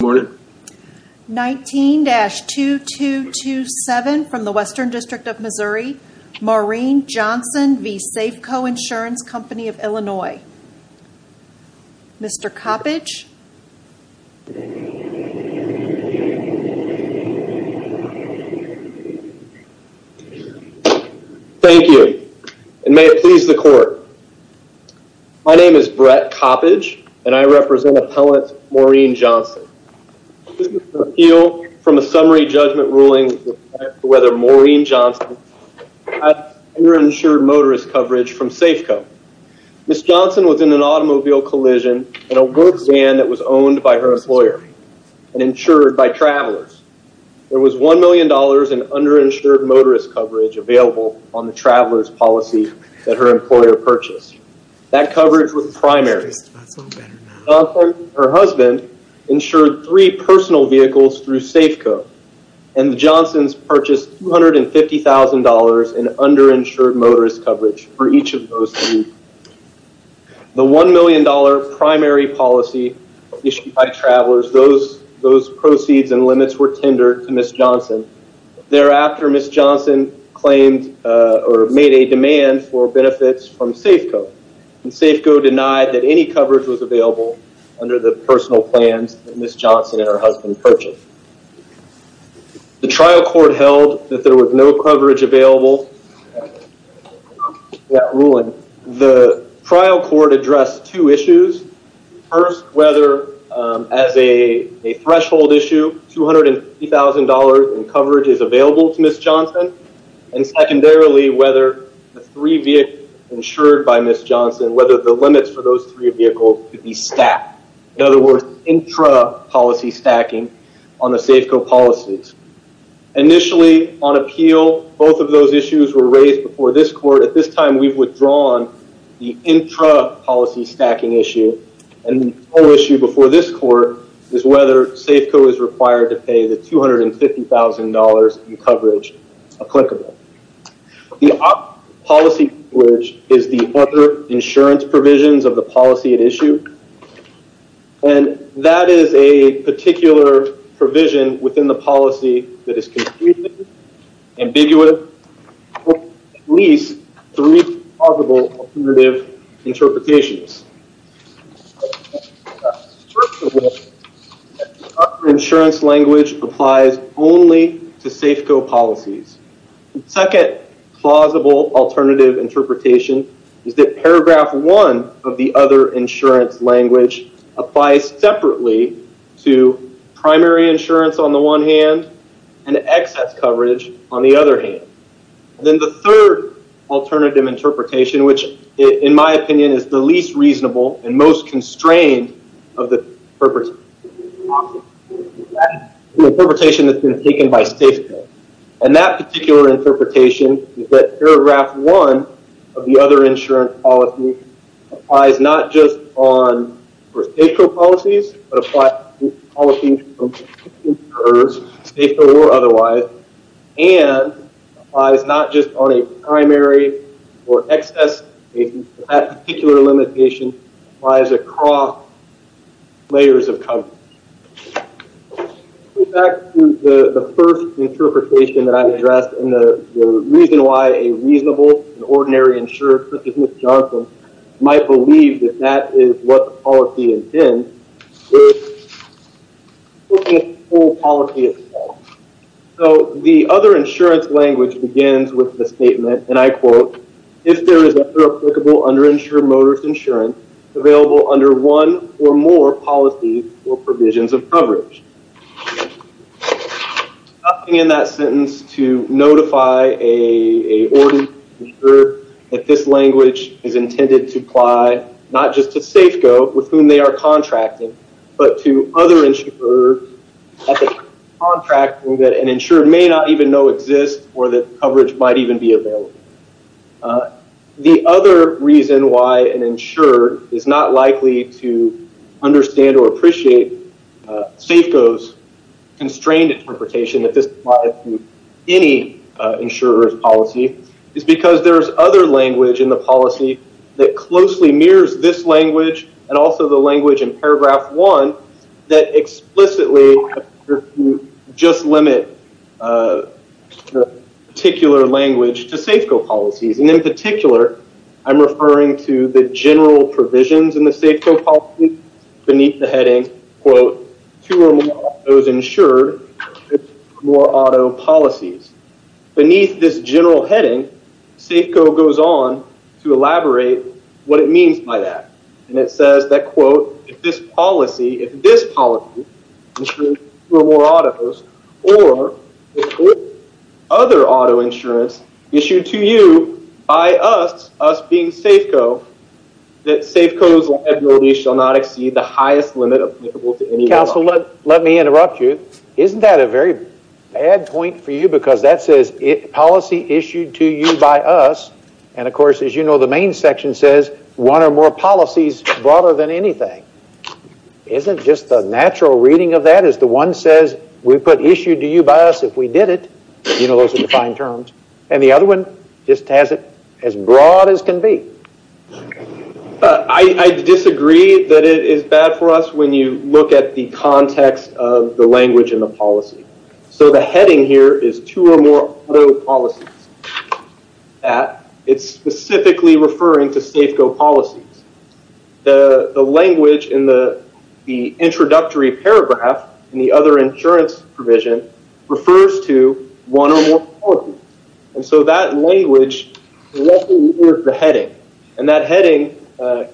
19-2227 from the Western District of Missouri, Maureen Johnson v. Safeco Insurance Company of Illinois. Mr. Coppedge. Thank you, and may it please the court. My name is Brett Coppedge, and I represent appellant Maureen Johnson. Appeal from a summary judgment ruling whether Maureen Johnson underinsured motorist coverage from Safeco. Ms. Johnson was in an automobile collision in a wood van that was owned by her employer and insured by travelers. There was $1 million in underinsured motorist coverage available on the traveler's policy that her employer purchased. That coverage was primary. Her husband insured three personal vehicles through Safeco, and the Johnsons purchased $250,000 in underinsured motorist coverage for each of those three. The $1 million primary policy issued by travelers, those proceeds and limits were tendered to Ms. Johnson. Thereafter, Ms. Johnson claimed or made a demand for benefits from Safeco, and Safeco denied that any coverage was available under the personal plans that Ms. Johnson and her husband purchased. The trial court held that there was no coverage available The trial court addressed two issues. First, whether as a threshold issue, $250,000 in coverage is available to Ms. Johnson, and secondarily, whether the three vehicles insured by Ms. Johnson, whether the limits for those three vehicles could be stacked. In other words, intrapolicy stacking on the Safeco policies. Initially, on appeal, both of those issues were raised before this court. At this time, we've withdrawn the intrapolicy stacking issue, and the whole issue before this court is whether Safeco is required to pay the $250,000 in coverage applicable. The policy coverage is the other insurance provisions of the policy at issue, and that is a particular provision within the policy that is ambiguous, at least three possible alternative interpretations. Insurance language applies only to Safeco policies. The second plausible alternative interpretation is that paragraph one of the other insurance language applies separately to primary insurance on the one hand and excess coverage on the other hand. Then the third alternative interpretation, which in my opinion is the least reasonable and most constrained of the interpretation that's been taken by Safeco, and that particular interpretation is that paragraph one of the other insurance policy applies not just on Safeco policies, but applies to policies from insurers, Safeco or otherwise, and applies not just on a primary or excess, that particular limitation applies across layers of coverage. Back to the first interpretation that I addressed, and the reason why a reasonable and ordinary insurer, such as Ms. Johnson, might believe that that is what the policy intends, is looking at the whole policy as a whole. So the other insurance language begins with the statement, and I quote, if there is other applicable underinsured motorist insurance available under one or more policies or provisions of coverage. Stopping in that sentence to notify a insurer that this language is intended to apply not just to Safeco, with whom they are contracting, but to other insurers contracting that an insured may not even know exists, or that coverage might even be available. The other reason why an insured is not likely to understand or appreciate Safeco's constrained interpretation that this applies to any insurer's policy, is because there's other language in the policy that that explicitly just limit particular language to Safeco policies, and in particular, I'm referring to the general provisions in the Safeco policy beneath the heading, quote, two or more autos insured with two or more auto policies. Beneath this general heading, Safeco goes on to elaborate what it means by that, and it says that, quote, if this policy, if this policy insures two or more autos, or other auto insurance issued to you by us, us being Safeco, that Safeco's liability shall not exceed the highest limit applicable to any other insurance. Counselor, let let me interrupt you. Isn't that a very bad point for you? Because that says policy issued to you by us, and, of course, as you know, the main section says one or more policies broader than anything. Isn't just the natural reading of that is the one says we put issued to you by us if we did it, you know, those are defined terms, and the other one just has it as broad as can be. I disagree that it is bad for us when you look at the context of the language in the policy. So the heading here is two or more auto policies that it's specifically referring to Safeco policies. The language in the introductory paragraph in the other insurance provision refers to one or more policies, and so that language is the heading, and that heading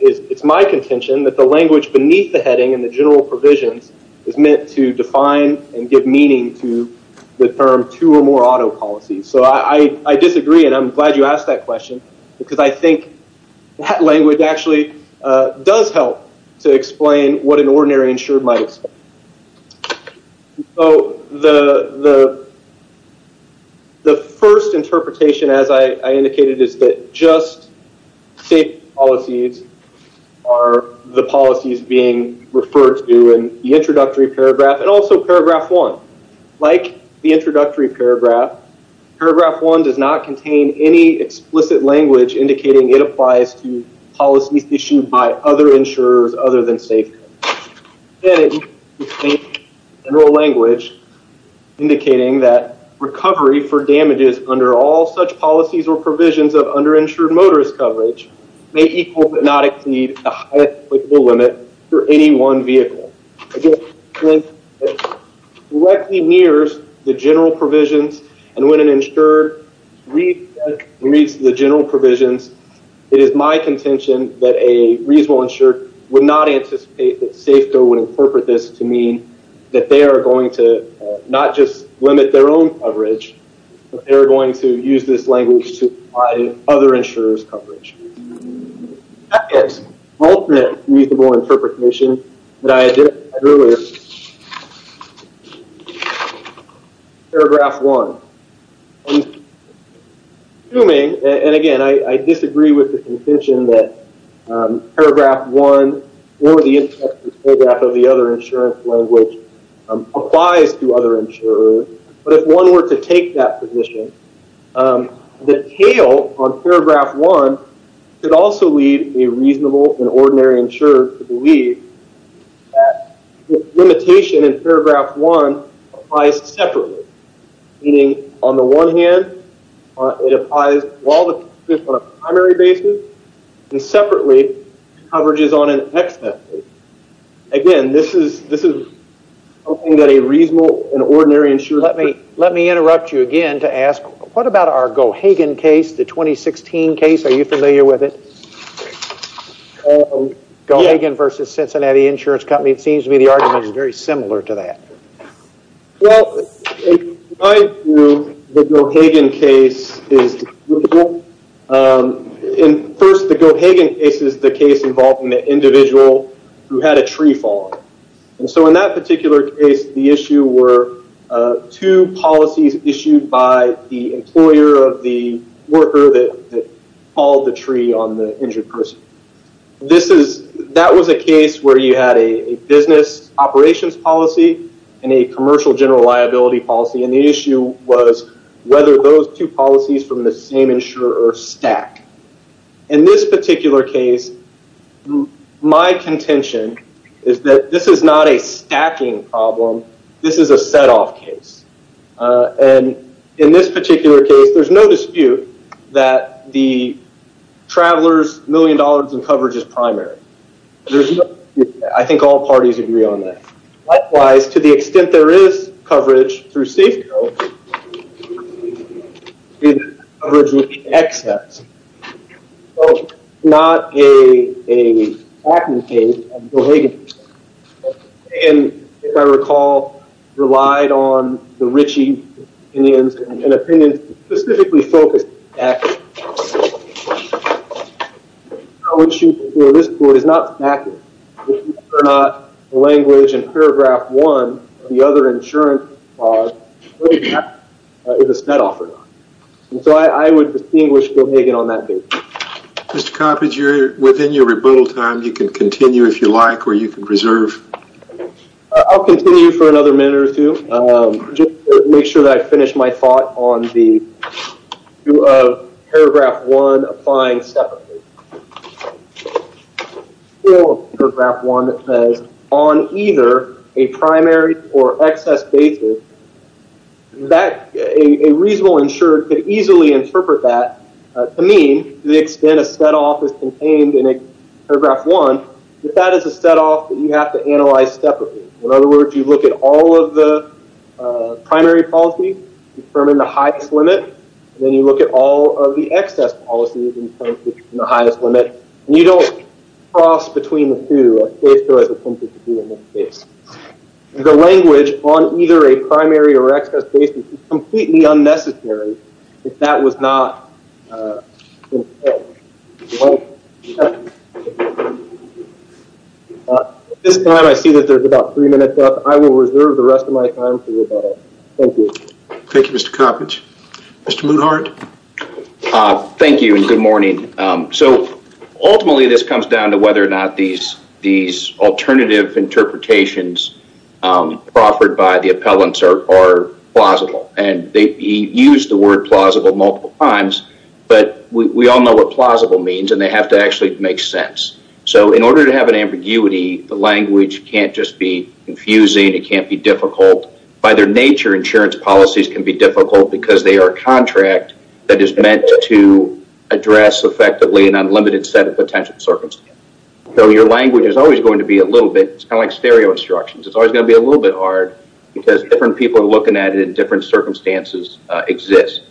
is, it's my contention, that the language beneath the heading in the general provisions is meant to define and give meaning to the term two or more auto policies. So I disagree, and I'm glad you asked that question, because I think that language actually does help to explain what an ordinary insured might expect. So the the first interpretation, as I indicated, is that just Safeco policies are the policies being referred to in the introductory paragraph and also paragraph one. Like the introductory paragraph, paragraph one does not contain any explicit language indicating it applies to policies issued by other insurers other than Safeco. General language indicating that recovery for damages under all such policies or provisions of underinsured motorist coverage may equal but not exceed the highest applicable limit for any one vehicle. I disagree. It directly nears the general provisions, and when an insured reads the general provisions, it is my contention that a reasonable insured would not anticipate that Safeco would incorporate this to mean that they are going to not just limit their own coverage, but they're going to use this language to apply to other insurers coverage. The second alternate reasonable interpretation that I identified earlier is paragraph one. Assuming, and again, I disagree with the contention that paragraph one or the introductory paragraph of the other insurance language applies to other insurers, but if one were to take that position, the tail on paragraph one could also lead a reasonable and ordinary insurer to believe limitation in paragraph one applies separately, meaning on the one hand it applies on a primary basis and separately coverages on an extended basis. Again, this is something that a reasonable and ordinary insurer... Let me interrupt you again to ask, what about our Gohagan case, the 2016 case, are you familiar with it? Gohagan versus Cincinnati Insurance Company, it seems to me the argument is very similar to that. Well, the Gohagan case is in first the Gohagan case is the case involving the individual who had a tree fall. And so in that particular case the issue were two policies issued by the employer of the worker that called the tree on the injured person. That was a case where you had a business operations policy and a commercial general liability policy and the issue was whether those two policies from the same insurer stack. In this particular case, my contention is that this is not a stacking problem. This is a set-off case. And in this particular case, there's no dispute that the travelers million dollars in coverage is primary. There's no... I think all parties agree on that. Likewise, to the extent there is coverage through Safeco, there is coverage through XS. Not a stacking case of Gohagan. And if I recall, relied on the Ritchie opinions and opinions specifically focused on XS. The issue here at this point is not stacking. Whether or not the language in paragraph one of the other insurance clause is a set-off or not. So I would distinguish Gohagan on that basis. Mr. Coppedge, you're within your rebuttal time. You can continue if you like or you can reserve. I'll continue for another minute or two. Just to make sure that I finish my thought on the issue of paragraph one applying separately. Paragraph one says on either a primary or XS basis that a reasonable insured could easily interpret that to mean to the extent a set-off is contained in a paragraph one. If that is a set-off, you have to analyze separately. In other words, you look at all of the primary policy, determine the highest limit. Then you look at all of the XS policies and determine the highest limit. You don't cross between the two, as Safeco has attempted to do in this case. The language on either a primary or XS basis is completely unnecessary if that was not At this time I see that there's about three minutes left. I will reserve the rest of my time for rebuttal. Thank you. Thank you, Mr. Coppedge. Mr. Moothart. Thank you, and good morning. So ultimately this comes down to whether or not these these propositions offered by the appellants are plausible, and they use the word plausible multiple times, but we all know what plausible means, and they have to actually make sense. So in order to have an ambiguity, the language can't just be confusing. It can't be difficult. By their nature, insurance policies can be difficult because they are a contract that is meant to address effectively an unlimited set of potential circumstances. So your language is always going to be a little bit, it's kind of like stereo instructions, it's always going to be a little bit hard because different people are looking at it in different circumstances exist.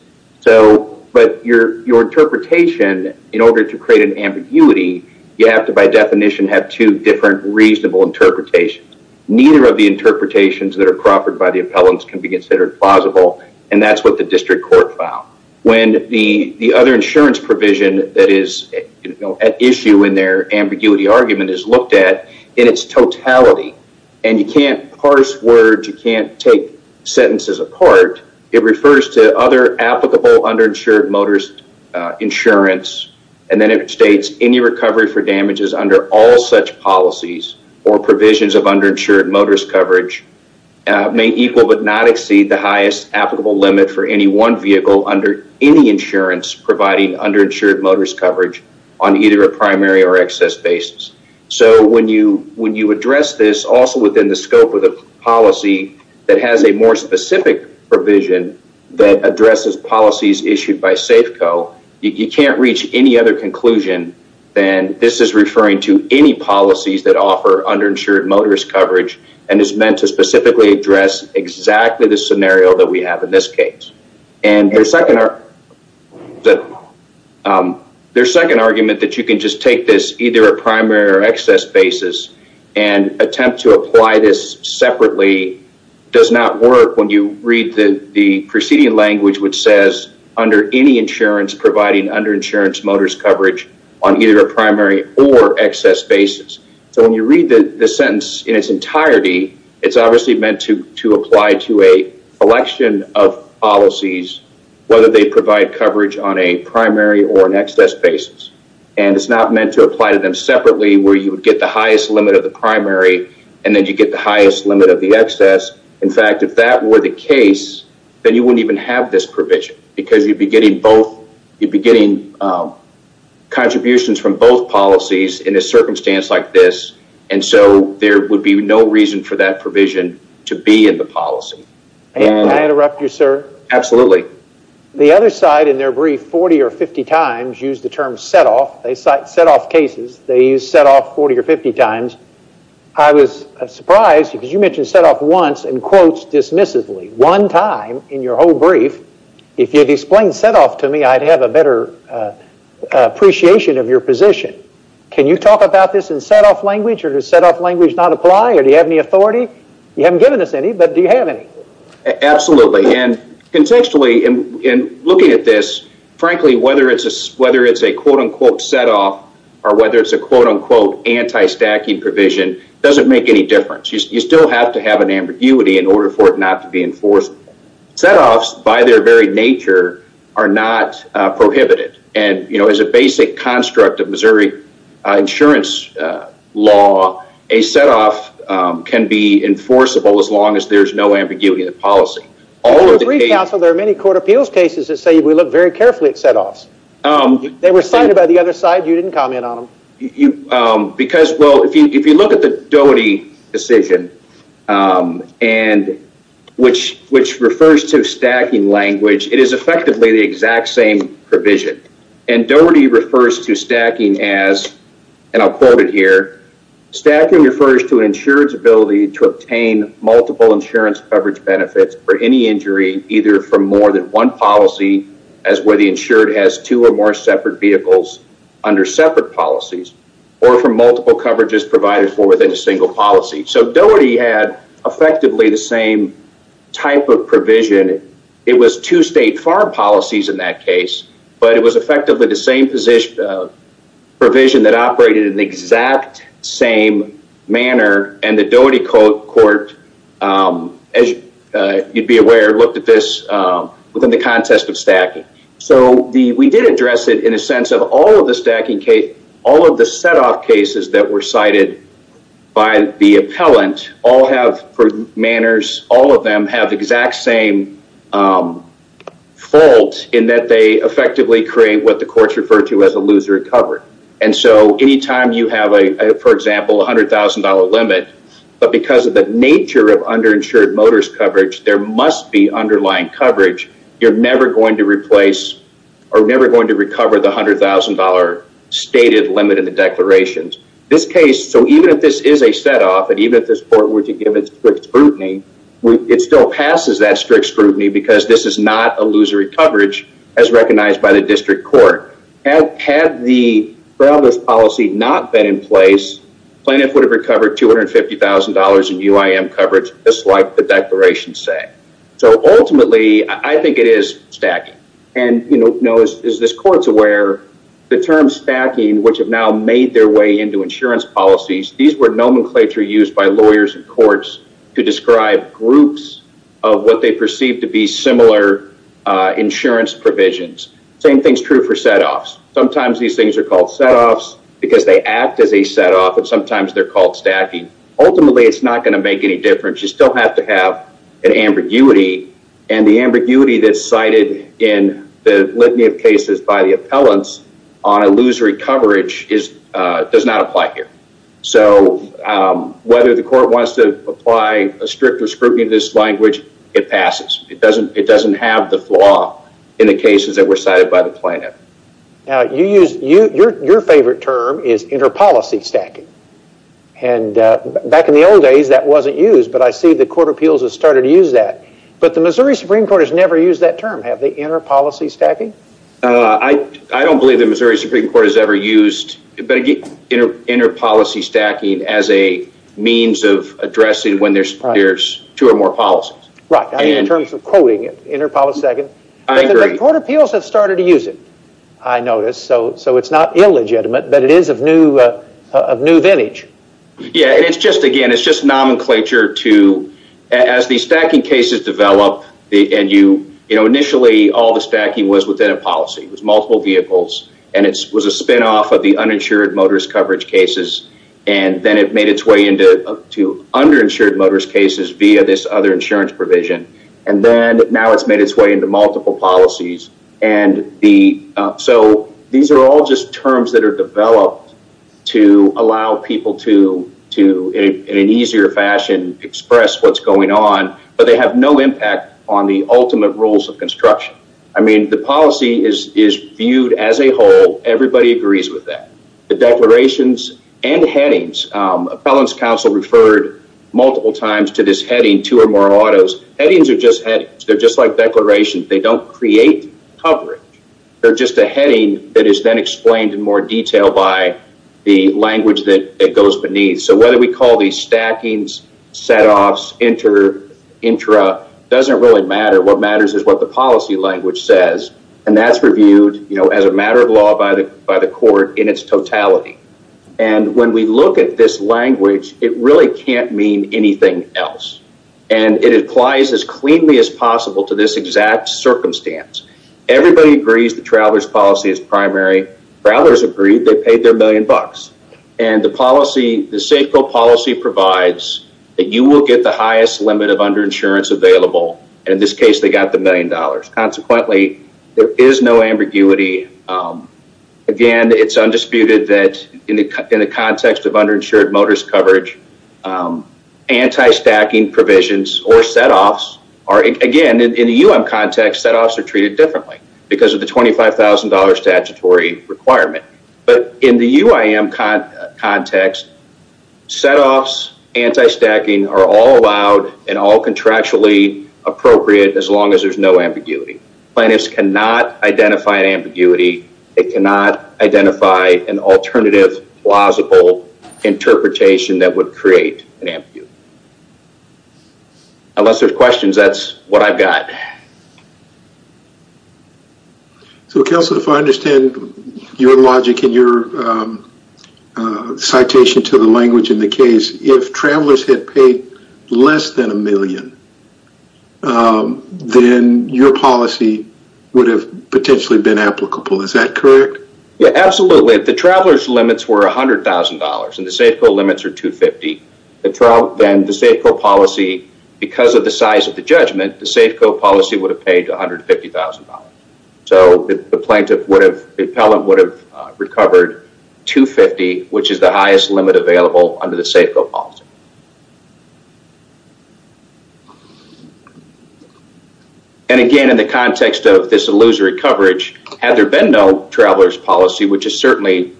So, but your interpretation, in order to create an ambiguity, you have to by definition have two different reasonable interpretations. Neither of the interpretations that are proffered by the appellants can be considered plausible, and that's what the district court found. When the the other insurance provision that is at issue in their ambiguity argument is looked at in its totality, and you can't parse words, you can't take sentences apart, it refers to other applicable underinsured motorist insurance, and then it states any recovery for damages under all such policies or provisions of underinsured motorist coverage may equal but not exceed the highest applicable limit for any one vehicle under any insurance providing underinsured motorist coverage on either a primary or excess basis. So when you when you address this also within the scope of the policy that has a more specific provision that addresses policies issued by Safeco, you can't reach any other conclusion than this is referring to any policies that offer underinsured motorist coverage and is meant to specifically address exactly the scenario that we have in this case. And the second that their second argument that you can just take this either a primary or excess basis and attempt to apply this separately does not work when you read the preceding language which says under any insurance providing underinsured motorist coverage on either a primary or excess basis. So when you read the sentence in its entirety, it's obviously meant to apply to a selection of policies whether they provide coverage on a primary or an excess basis. And it's not meant to apply to them separately where you would get the highest limit of the primary and then you get the highest limit of the excess. In fact, if that were the case, then you wouldn't even have this provision because you'd be getting both, you'd be getting contributions from both policies in a circumstance like this. And so there would be no reason for that provision to be in the policy. Can I interrupt you, sir? Absolutely. The other side in their brief 40 or 50 times used the term set-off. They cite set-off cases. They use set-off 40 or 50 times. I was surprised because you mentioned set-off once and quotes dismissively one time in your whole brief. If you'd explained set-off to me, I'd have a better appreciation of your position. Can you talk about this in set-off language or does set-off language not apply or do you have any authority? You haven't given us any, but do you have any? Absolutely, and contextually in looking at this, frankly, whether it's a quote-unquote set-off or whether it's a quote-unquote anti-stacking provision doesn't make any difference. You still have to have an ambiguity in order for it not to be enforced. Set-offs by their very nature are not prohibited and, you know, as a basic construct of Missouri insurance law, a set-off can be enforceable as long as there's no ambiguity in the policy. In your brief, counsel, there are many court appeals cases that say we look very carefully at set-offs. They were cited by the other side. You didn't comment on them. Because, well, if you look at the Doherty decision and which refers to stacking language, it is effectively the exact same provision and Doherty refers to stacking as, and I'll quote it here, stacking refers to an insured's ability to obtain multiple insurance coverage benefits for any injury either from more than one policy as whether the insured has two or more separate vehicles under separate policies or from multiple coverages provided for within a single policy. So Doherty had effectively the same type of provision. It was two state farm policies in that case, but it was effectively the same position provision that operated in the exact same manner and the Doherty court, as you'd be aware, looked at this within the context of stacking. So we did address it in a sense of all of the stacking case, all of the set-off cases that were cited by the appellant all have, for manners, all of them have exact same fault in that they effectively create what the courts refer to as a loser at coverage. And so anytime you have a, for example, a hundred thousand dollar limit, but because of the nature of underinsured motorist coverage, there must be underlying coverage, you're never going to replace or never going to recover the hundred thousand dollar stated limit in the declarations. This case, so even if this is a set-off and even if this court were to give it strict scrutiny, it still passes that strict scrutiny because this is not a loser at coverage, as recognized by the district court. Had the policy not been in place, plaintiff would have recovered $250,000 in UIM coverage, just like the declarations say. So ultimately, I think it is stacking and, you know, as this court's aware, the term stacking, which have now made their way into insurance policies, these were nomenclature used by lawyers and courts to describe groups of what they perceive to be similar insurance provisions. Same thing's true for set-offs. Sometimes these things are called set-offs because they act as a set-off and sometimes they're called stacking. Ultimately, it's not going to make any difference. You still have to have an ambiguity and the ambiguity that's cited in the litany of cases by the appellants on whether the court wants to apply a strict or scrutiny to this language, it passes. It doesn't have the flaw in the cases that were cited by the plaintiff. Now, your favorite term is inter-policy stacking. Back in the old days, that wasn't used, but I see the Court of Appeals has started to use that. But the Missouri Supreme Court has never used that term. Have they, inter-policy stacking? I don't believe the Missouri Supreme Court has ever used inter-policy stacking as a means of addressing when there's two or more policies. Right, I mean in terms of quoting it, inter-policy stacking, but the Court of Appeals has started to use it, I notice. So it's not illegitimate, but it is of new vintage. Yeah, and it's just again, it's just nomenclature to, as the stacking cases develop and you, you know, all the stacking was within a policy. It was multiple vehicles, and it was a spinoff of the uninsured motorist coverage cases. And then it made its way into to underinsured motorist cases via this other insurance provision. And then, now it's made its way into multiple policies. And the, so these are all just terms that are developed to allow people to, to in an easier fashion express what's going on. But they have no impact on the ultimate rules of construction. I mean, the policy is, is viewed as a whole. Everybody agrees with that. The declarations and headings, Appellant's counsel referred multiple times to this heading, two or more autos. Headings are just headings. They're just like declarations. They don't create coverage. They're just a heading that is then explained in more detail by the language that it goes beneath. So whether we call these stackings, setoffs, inter, intra, doesn't really matter. What matters is what the policy language says, and that's reviewed, you know, as a matter of law by the, by the court in its totality. And when we look at this language, it really can't mean anything else. And it applies as cleanly as possible to this exact circumstance. Everybody agrees the traveler's policy is primary. Travelers agreed they paid their million bucks. And the policy, the Safeco policy provides that you will get the highest limit of underinsurance available. In this case, they got the million dollars. Consequently, there is no ambiguity. Again, it's undisputed that in the context of underinsured motorist coverage, anti-stacking provisions or setoffs are, again, in the UIM context, setoffs are treated differently because of the $25,000 statutory requirement. But in the UIM context, setoffs, anti-stacking are all allowed and all contractually appropriate as long as there's no ambiguity. Plaintiffs cannot identify an ambiguity. They cannot identify an alternative plausible interpretation that would create an ambiguity. Unless there's questions, that's what I've got. So, Counselor, if I understand your logic and your citation to the language in the case, if travelers had paid less than a million, then your policy would have potentially been applicable. Is that correct? Yeah, absolutely. If the traveler's limits were $100,000 and the Safeco limits are $250,000, then the Safeco policy, because of the size of the judgment, the Safeco policy would be $100,000. The Safeco policy would have paid $150,000. So, the plaintiff would have, the appellant would have recovered $250,000, which is the highest limit available under the Safeco policy. And again, in the context of this illusory coverage, had there been no traveler's policy, which is certainly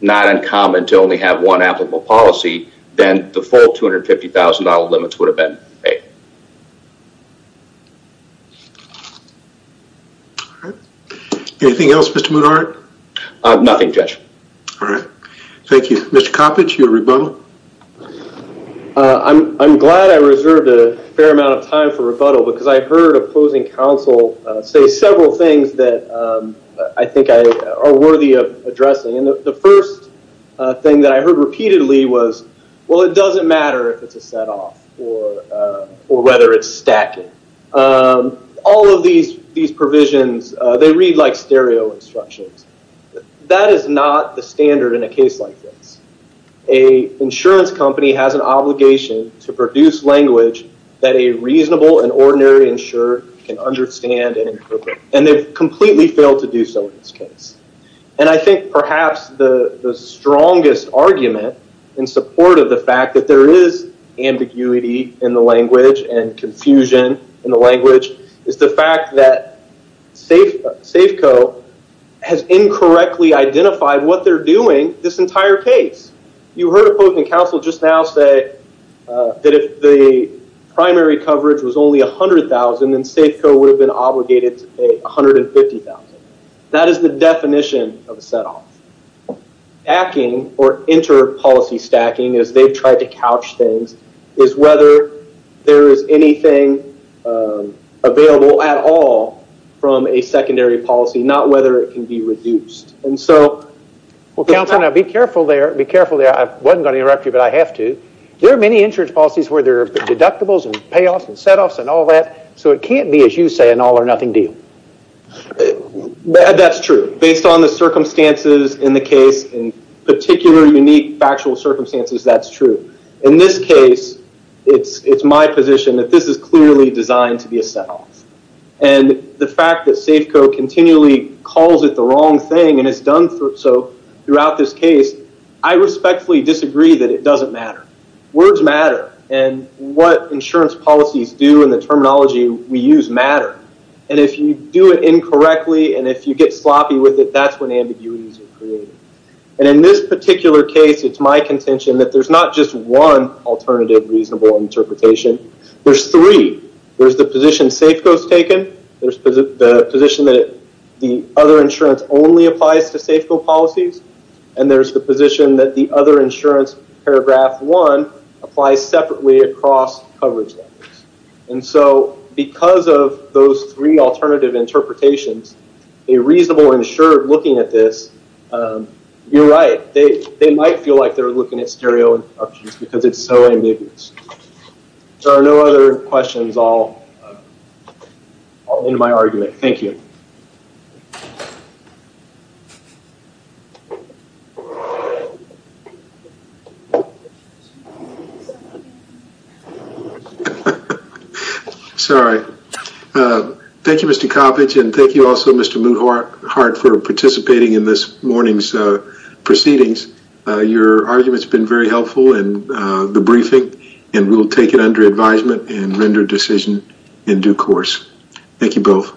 not uncommon to only have one applicable policy, then the full $250,000 limits would have been paid. All right. Anything else, Mr. Moodheart? Nothing, Judge. All right. Thank you. Mr. Coppedge, your rebuttal? I'm glad I reserved a fair amount of time for rebuttal because I heard opposing counsel say several things that I think are worthy of addressing. And the first thing that I heard repeatedly was, well, it doesn't matter if it's a set-off or whether it's stacking. All of these provisions, they read like stereo instructions. That is not the standard in a case like this. A insurance company has an obligation to produce language that a reasonable and ordinary insurer can understand and interpret. And they've completely failed to do so in this case. And I think perhaps the strongest argument in support of the fact that there is ambiguity in the language and confusion in the language is the fact that Safeco has incorrectly identified what they're doing this entire case. You heard opposing counsel just now say that if the primary coverage was only $100,000, then Safeco would have been obligated to pay $150,000. That is the definition of a set-off. Stacking or inter-policy stacking, as they've tried to couch things, is whether there is anything available at all from a secondary policy, not whether it can be reduced. Well, counsel, now be careful there. Be careful there. I wasn't going to interrupt you, but I have to. There are many insurance policies where there are deductibles and payoffs and set-offs and all that. So it can't be, as you say, an all-or-nothing deal. That's true. Based on the circumstances in the case, in particular, unique, factual circumstances, that's true. In this case, it's my position that this is clearly designed to be a set-off. And the fact that Safeco continually calls it the wrong thing and has done so throughout this case, I respectfully disagree that it doesn't matter. Words matter. And what insurance policies do and the terminology we use matter. And if you do it incorrectly and if you get sloppy with it, that's when ambiguities are created. And in this particular case, it's my contention that there's not just one alternative reasonable interpretation. There's three. There's the position Safeco's taken. There's the position that the other insurance only applies to Safeco policies. And there's the position that the other insurance, paragraph one, applies separately across coverage levels. And so because of those three alternative interpretations, a reasonable insurer looking at this, you're right. They might feel like they're looking at stereo interruptions because it's so ambiguous. There are no other Thank you, Mr. Coppedge. And thank you also, Mr. Moothart, for participating in this morning's proceedings. Your argument's been very helpful in the briefing, and we'll take it under advisement and render a decision in due course. Thank you both.